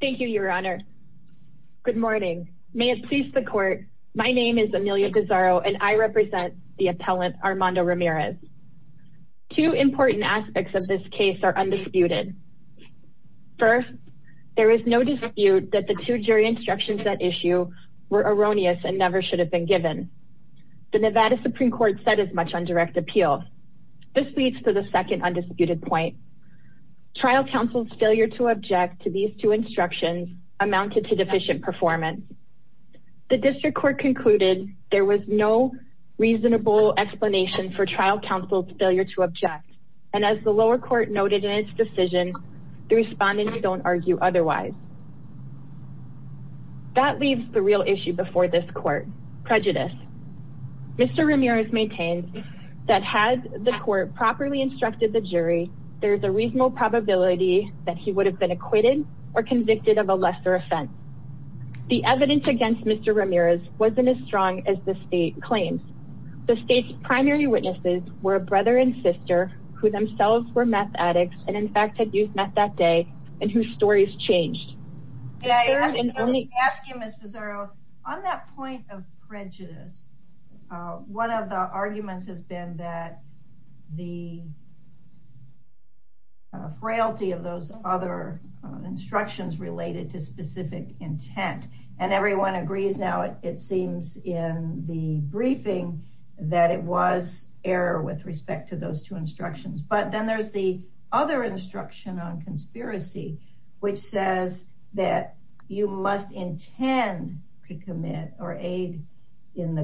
Thank you, Your Honor. Good morning. May it please the court. My name is Amelia Desarro and I represent the appellant Armando Ramirez. Two important aspects of this case are undisputed. First, there is no dispute that the two jury instructions that issue were erroneous and never should have been given. The Nevada Supreme Court said as much on direct appeal. This leads to the second amounted to deficient performance. The district court concluded there was no reasonable explanation for trial counsel's failure to object, and as the lower court noted in its decision, the respondents don't argue otherwise. That leaves the real issue before this court, prejudice. Mr. Ramirez maintained that had the court properly instructed the jury, there is a reasonable probability that he would have been acquitted or convicted of a lesser offense. The evidence against Mr. Ramirez wasn't as strong as the state claims. The state's primary witnesses were a brother and sister who themselves were meth addicts and in fact had used meth that day and whose stories changed. Asking Mr. Desarro, on that point of prejudice, one of the arguments has been that the frailty of those other instructions related to specific intent, and everyone agrees now it seems in the briefing that it was error with respect to those two instructions, but then there's the other instruction on conspiracy which says that you must intend to commit or aid in the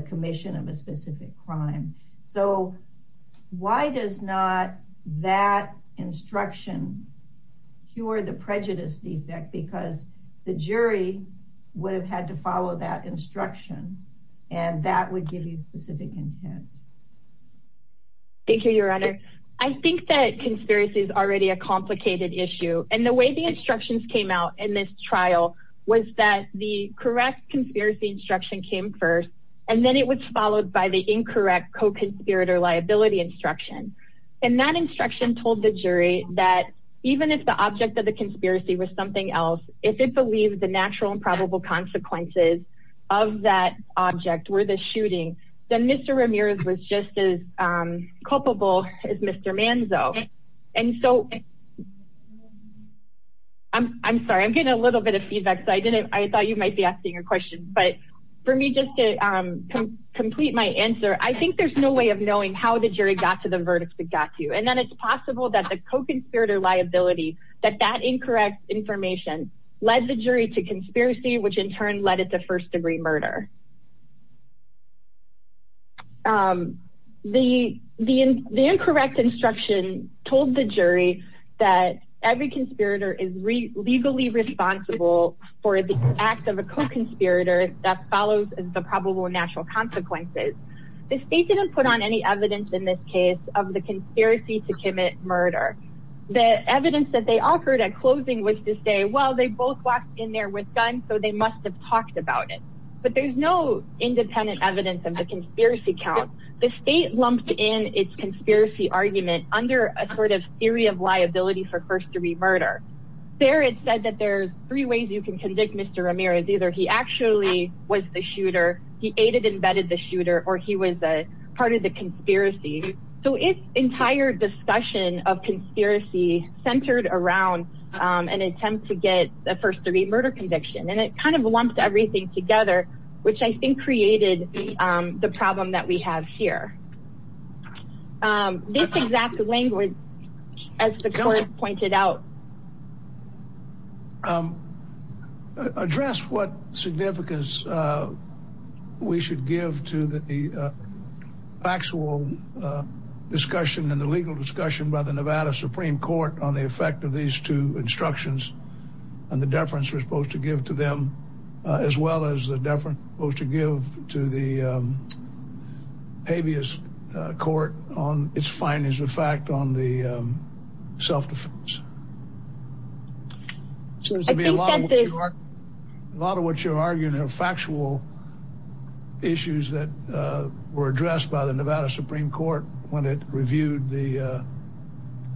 that instruction cured the prejudice defect because the jury would have had to follow that instruction and that would give you specific intent. Thank you, your honor. I think that conspiracy is already a complicated issue and the way the instructions came out in this trial was that the correct conspiracy instruction came first and then it was followed by the incorrect co-conspirator liability instruction and that instruction told the jury that even if the object of the conspiracy was something else, if it believed the natural and probable consequences of that object were the shooting, then Mr. Ramirez was just as culpable as Mr. Manzo and so I'm sorry, I'm getting a little bit of feedback so I didn't, I thought you might be asking a but for me just to complete my answer, I think there's no way of knowing how the jury got to the verdict that got to you and then it's possible that the co-conspirator liability that that incorrect information led the jury to conspiracy which in turn led it to first degree murder. The incorrect instruction told the jury that every conspirator is legally responsible for the act of a co-conspirator that follows the probable natural consequences. The state didn't put on any evidence in this case of the conspiracy to commit murder. The evidence that they offered at closing was to say well they both walked in there with guns so they must have talked about it but there's no independent evidence of the conspiracy count. The state lumped in its conspiracy argument under a sort of theory of liability for first degree murder. There it said that there's three ways you can convict Mr. Ramirez. Either he actually was the shooter, he aided and abetted the shooter or he was a part of the conspiracy. So its entire discussion of conspiracy centered around an attempt to get a first degree murder conviction and it kind of lumped everything together which I think created the problem that we have here. This exact language as the court pointed out. Address what significance we should give to the factual discussion and the legal discussion by the Nevada Supreme Court on the effect of these two instructions and the deference we're supposed to give to them as well as the deference supposed to give to the habeas court on its findings of on the self-defense. A lot of what you're arguing are factual issues that were addressed by the Nevada Supreme Court when it reviewed the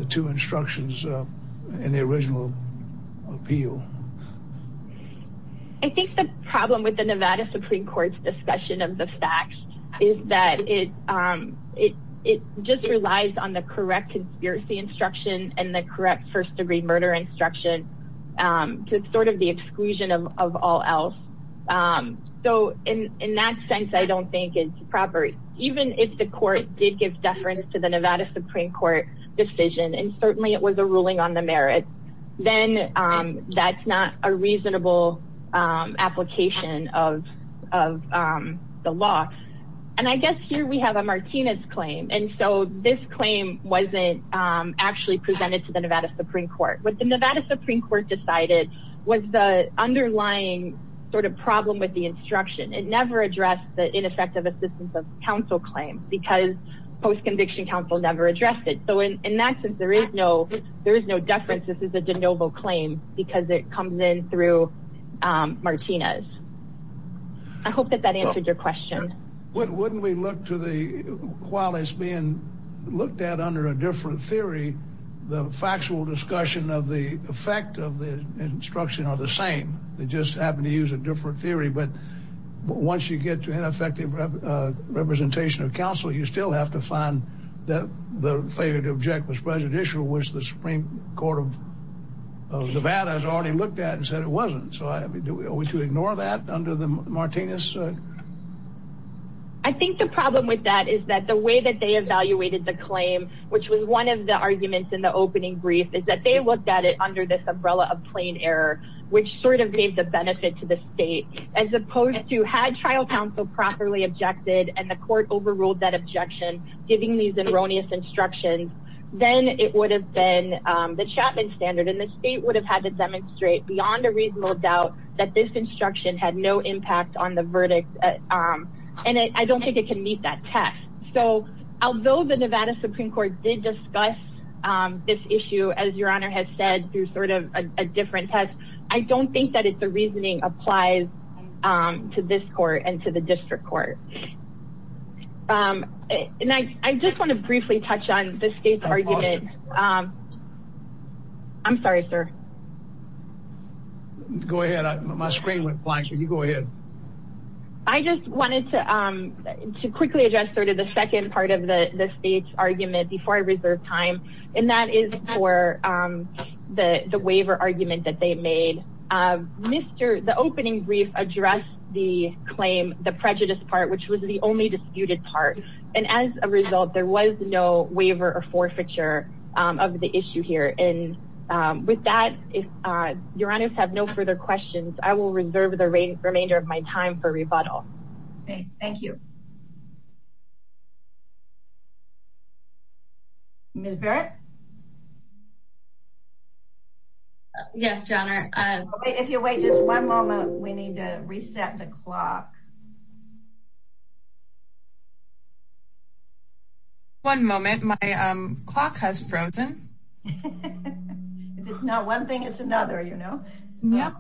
two instructions in the original appeal. I think the problem with the Nevada Supreme Court's discussion of the facts is that it just relies on the correct conspiracy instruction and the correct first degree murder instruction to sort of the exclusion of all else. So in that sense I don't think it's proper. Even if the court did give deference to the Nevada Supreme Court decision and certainly it was a ruling on the merit, then that's not a reasonable application of the law. And I guess here we have a Martinez claim and so this claim wasn't actually presented to the Nevada Supreme Court. What the Nevada Supreme Court decided was the underlying sort of problem with the instruction. It never addressed the ineffective assistance of counsel claim because post-conviction counsel never addressed it. So in that sense there is no there is no deference. This is a de novo claim because it comes in through Martinez. I hope that that answered your question. Wouldn't we look to the while it's being looked at under a different theory the factual discussion of the effect of the instruction are the same they just happen to use a different theory but once you get to ineffective representation of counsel you still have to find that the failure to object was prejudicial which the Supreme Court of Nevada has already looked at and said it wasn't. So are we to ignore that under the Martinez? I think the problem with that is that the way that they evaluated the claim which was one of the arguments in the opening brief is that they looked at it under this umbrella of plain error which sort of gave the benefit to the state as opposed to had trial counsel properly objected and the court overruled that objection giving these erroneous instructions then it would have the Chapman standard and the state would have had to demonstrate beyond a reasonable doubt that this instruction had no impact on the verdict and I don't think it can meet that test. So although the Nevada Supreme Court did discuss this issue as your honor has said through sort of a different test I don't think that it's the reasoning applies to this court and to the state. I'm sorry sir. Go ahead my screen went blank can you go ahead. I just wanted to to quickly address sort of the second part of the the state's argument before I reserve time and that is for the the waiver argument that they made. The opening brief addressed the claim the prejudice part which was the only disputed part and as a result there was no waiver or issue here and with that if your honors have no further questions I will reserve the remainder of my time for rebuttal. Okay thank you. Ms. Barrett. Yes your honor. If you wait just one moment we need to reset the clock. One moment my um clock has frozen. If it's not one thing it's another you know. Yep.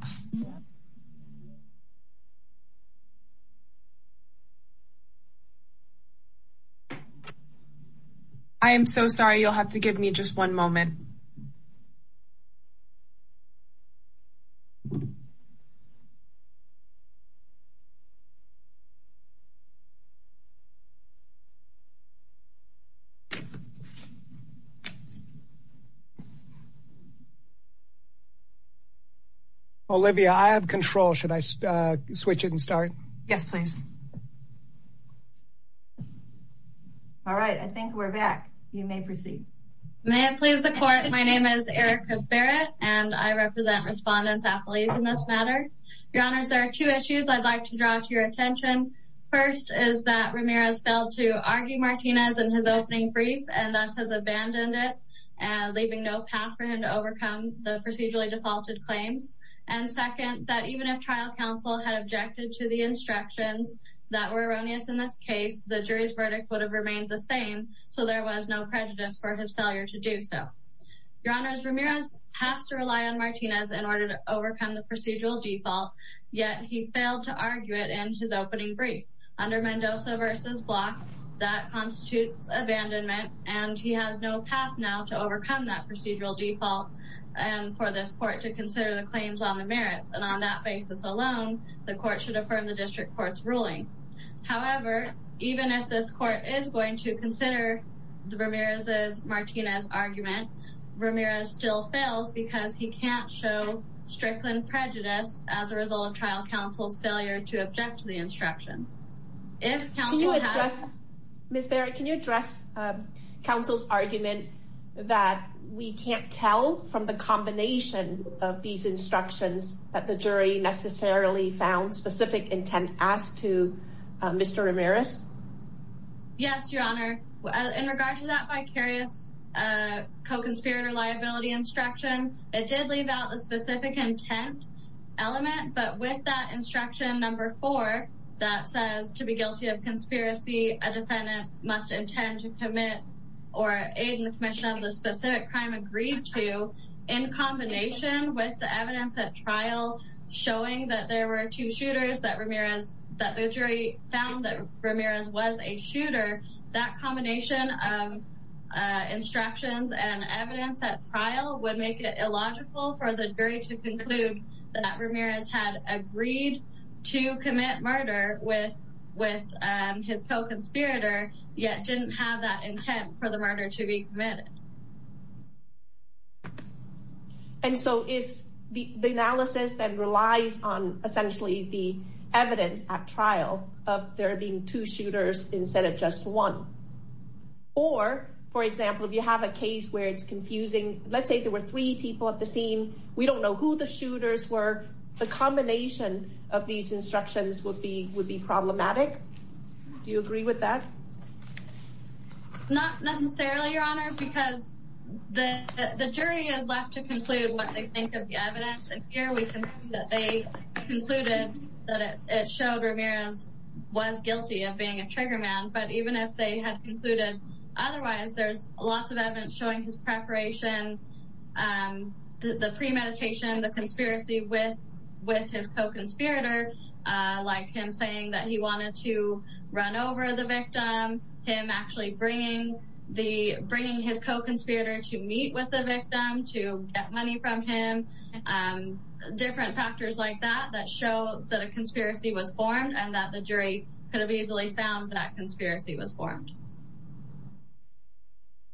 I am so sorry you'll have to give me just one moment. Olivia I have control should I switch it and start? Yes please. All right I think we're back. You may proceed. May it please the court my name is Erica Barrett and I represent respondents at police in this matter. Your honors there are two issues I'd like to draw to your attention. First is that Ramirez failed to argue Martinez in his opening brief and thus has abandoned it and leaving no path for him to overcome the procedurally defaulted claims and second that even if trial counsel had objected to the instructions that were erroneous in this case the jury's verdict would have remained the same so there was no prejudice for his failure to do so. Your honors Ramirez has to rely on Martinez in order to overcome the procedural default yet he failed to argue it in his opening brief under Mendoza versus Block that constitutes abandonment and he has no path now to overcome that procedural default and for this court to consider the claims on the merits and on that basis alone the court should affirm the district court's ruling. However even if this court is going to consider the Ramirez's Martinez argument Ramirez still fails because he can't show strickland prejudice as a result of trial counsel's failure to object to the instructions. Ms. Barrett can you address counsel's argument that we can't tell from the combination of these found specific intent as to Mr. Ramirez? Yes your honor in regard to that vicarious co-conspirator liability instruction it did leave out the specific intent element but with that instruction number four that says to be guilty of conspiracy a defendant must intend to commit or aid in the commission of the specific crime agreed to in combination with the evidence at that there were two shooters that Ramirez that the jury found that Ramirez was a shooter that combination of instructions and evidence at trial would make it illogical for the jury to conclude that Ramirez had agreed to commit murder with with his co-conspirator yet didn't have that essentially the evidence at trial of there being two shooters instead of just one or for example if you have a case where it's confusing let's say there were three people at the scene we don't know who the shooters were the combination of these instructions would be would be problematic do you agree with that? Not necessarily your honor because the the jury is left to conclude what they think of the evidence and here we can see that they concluded that it showed Ramirez was guilty of being a trigger man but even if they had concluded otherwise there's lots of evidence showing his preparation um the premeditation the conspiracy with with his co-conspirator uh like him saying that he wanted to run over the victim him actually bringing the get money from him um different factors like that that show that a conspiracy was formed and that the jury could have easily found that conspiracy was formed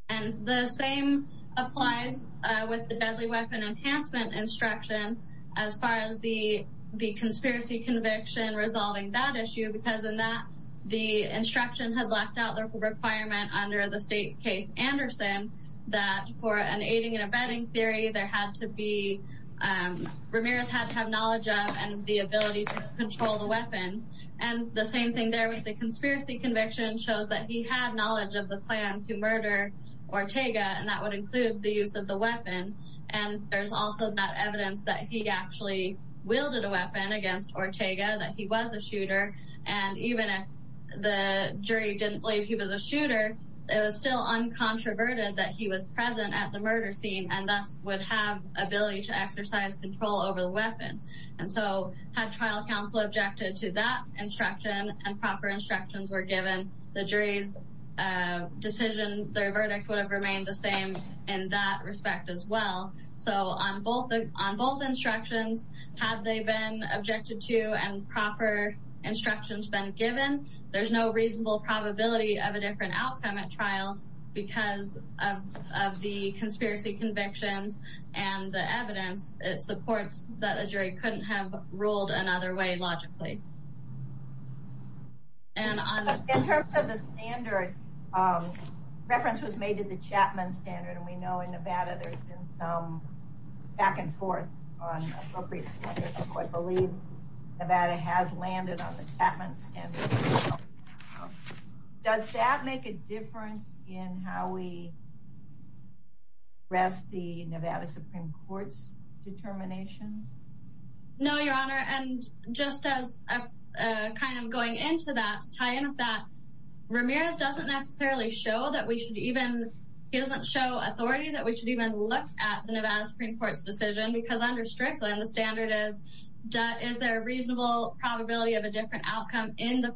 and the same applies uh with the deadly weapon enhancement instruction as far as the the conspiracy conviction resolving that issue because in that the instruction had left out the requirement under the state case anderson that for an aiding and abetting theory there had to be um Ramirez had to have knowledge of and the ability to control the weapon and the same thing there with the conspiracy conviction shows that he had knowledge of the plan to murder Ortega and that would include the use of the weapon and there's also that evidence that he actually wielded a weapon against Ortega that he was a shooter and even if the jury didn't believe he was a shooter it was still uncontroverted that he was present at the murder scene and thus would have ability to exercise control over the weapon and so had trial counsel objected to that instruction and proper instructions were given the jury's uh decision their verdict would have remained the same in that respect as well so on both on both instructions had they been objected to and reasonable probability of a different outcome at trial because of of the conspiracy convictions and the evidence it supports that the jury couldn't have ruled another way logically and in terms of the standard um reference was made to the chapman standard and we know in nevada there's been some back and forth on appropriate quarters i believe nevada has landed on the happens does that make a difference in how we rest the nevada supreme court's determination no your honor and just as a kind of going into that tie in with that ramirez doesn't necessarily show that we should even he doesn't show authority that we should even look at the nevada supreme court's decision because under strickland the standard is that is there a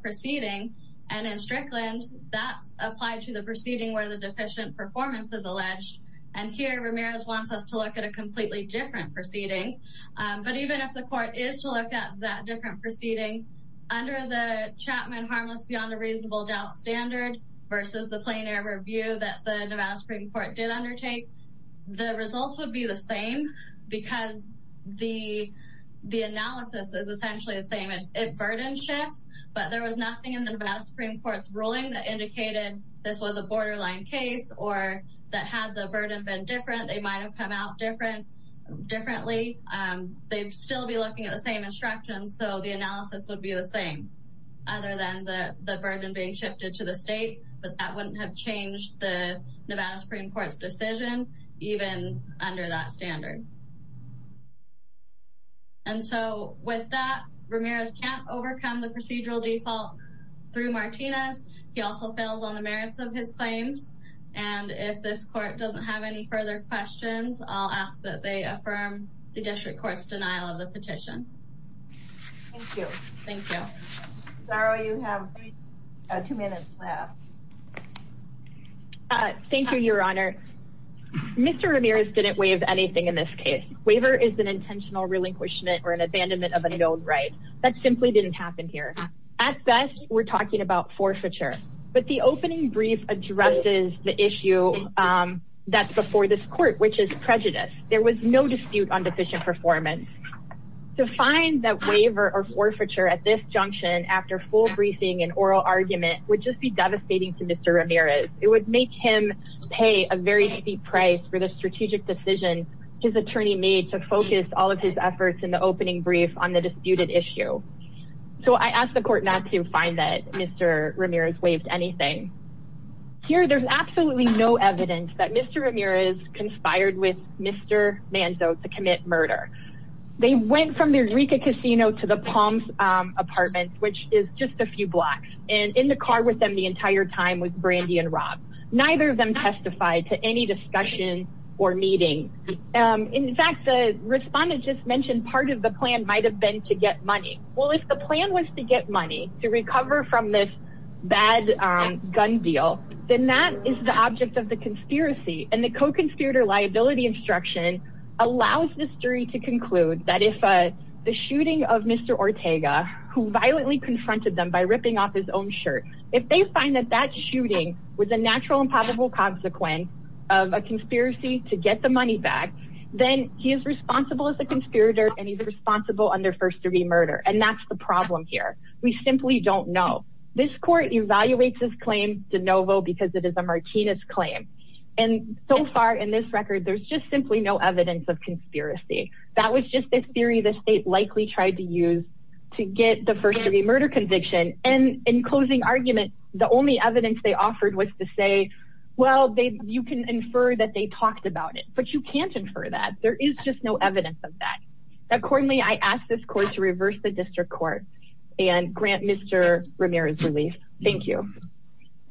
proceeding and in strickland that's applied to the proceeding where the deficient performance is alleged and here ramirez wants us to look at a completely different proceeding but even if the court is to look at that different proceeding under the chapman harmless beyond a reasonable doubt standard versus the plain air review that the nevada supreme court did undertake the results would be the same because the the analysis is essentially the same it burden shifts but there was nothing in the nevada supreme court's ruling that indicated this was a borderline case or that had the burden been different they might have come out different differently um they'd still be looking at the same instructions so the analysis would be the same other than the the burden being shifted to the state but that wouldn't have changed the even under that standard and so with that ramirez can't overcome the procedural default through martinez he also fails on the merits of his claims and if this court doesn't have any further questions i'll ask that they affirm the district court's denial of the petition thank you thank you sorry you have two minutes left uh thank you your honor mr ramirez didn't waive anything in this case waiver is an intentional relinquishment or an abandonment of a known right that simply didn't happen here at best we're talking about forfeiture but the opening brief addresses the issue um that's before this court which is prejudice there was no dispute on deficient performance to find that waiver at this junction after full briefing and oral argument would just be devastating to mr ramirez it would make him pay a very steep price for the strategic decision his attorney made to focus all of his efforts in the opening brief on the disputed issue so i asked the court not to find that mr ramirez waived anything here there's absolutely no evidence that mr ramirez conspired with to the palms apartments which is just a few blocks and in the car with them the entire time with brandy and rob neither of them testified to any discussion or meeting um in fact the respondent just mentioned part of the plan might have been to get money well if the plan was to get money to recover from this bad um gun deal then that is the object of the conspiracy and co-conspirator liability instruction allows this jury to conclude that if uh the shooting of mr ortega who violently confronted them by ripping off his own shirt if they find that that shooting was a natural and probable consequence of a conspiracy to get the money back then he is responsible as a conspirator and he's responsible under first-degree murder and that's the problem here we simply don't know this court evaluates this claim de novo because it is a martinez claim and so far in this record there's just simply no evidence of conspiracy that was just a theory the state likely tried to use to get the first-degree murder conviction and in closing argument the only evidence they offered was to say well they you can infer that they talked about it but you can't infer that there is just no evidence of that accordingly i asked this court to reverse the district court and grant mr ramirez relief thank you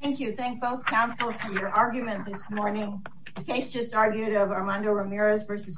thank you thank both for your argument this morning the case just argued of armando ramirez versus baker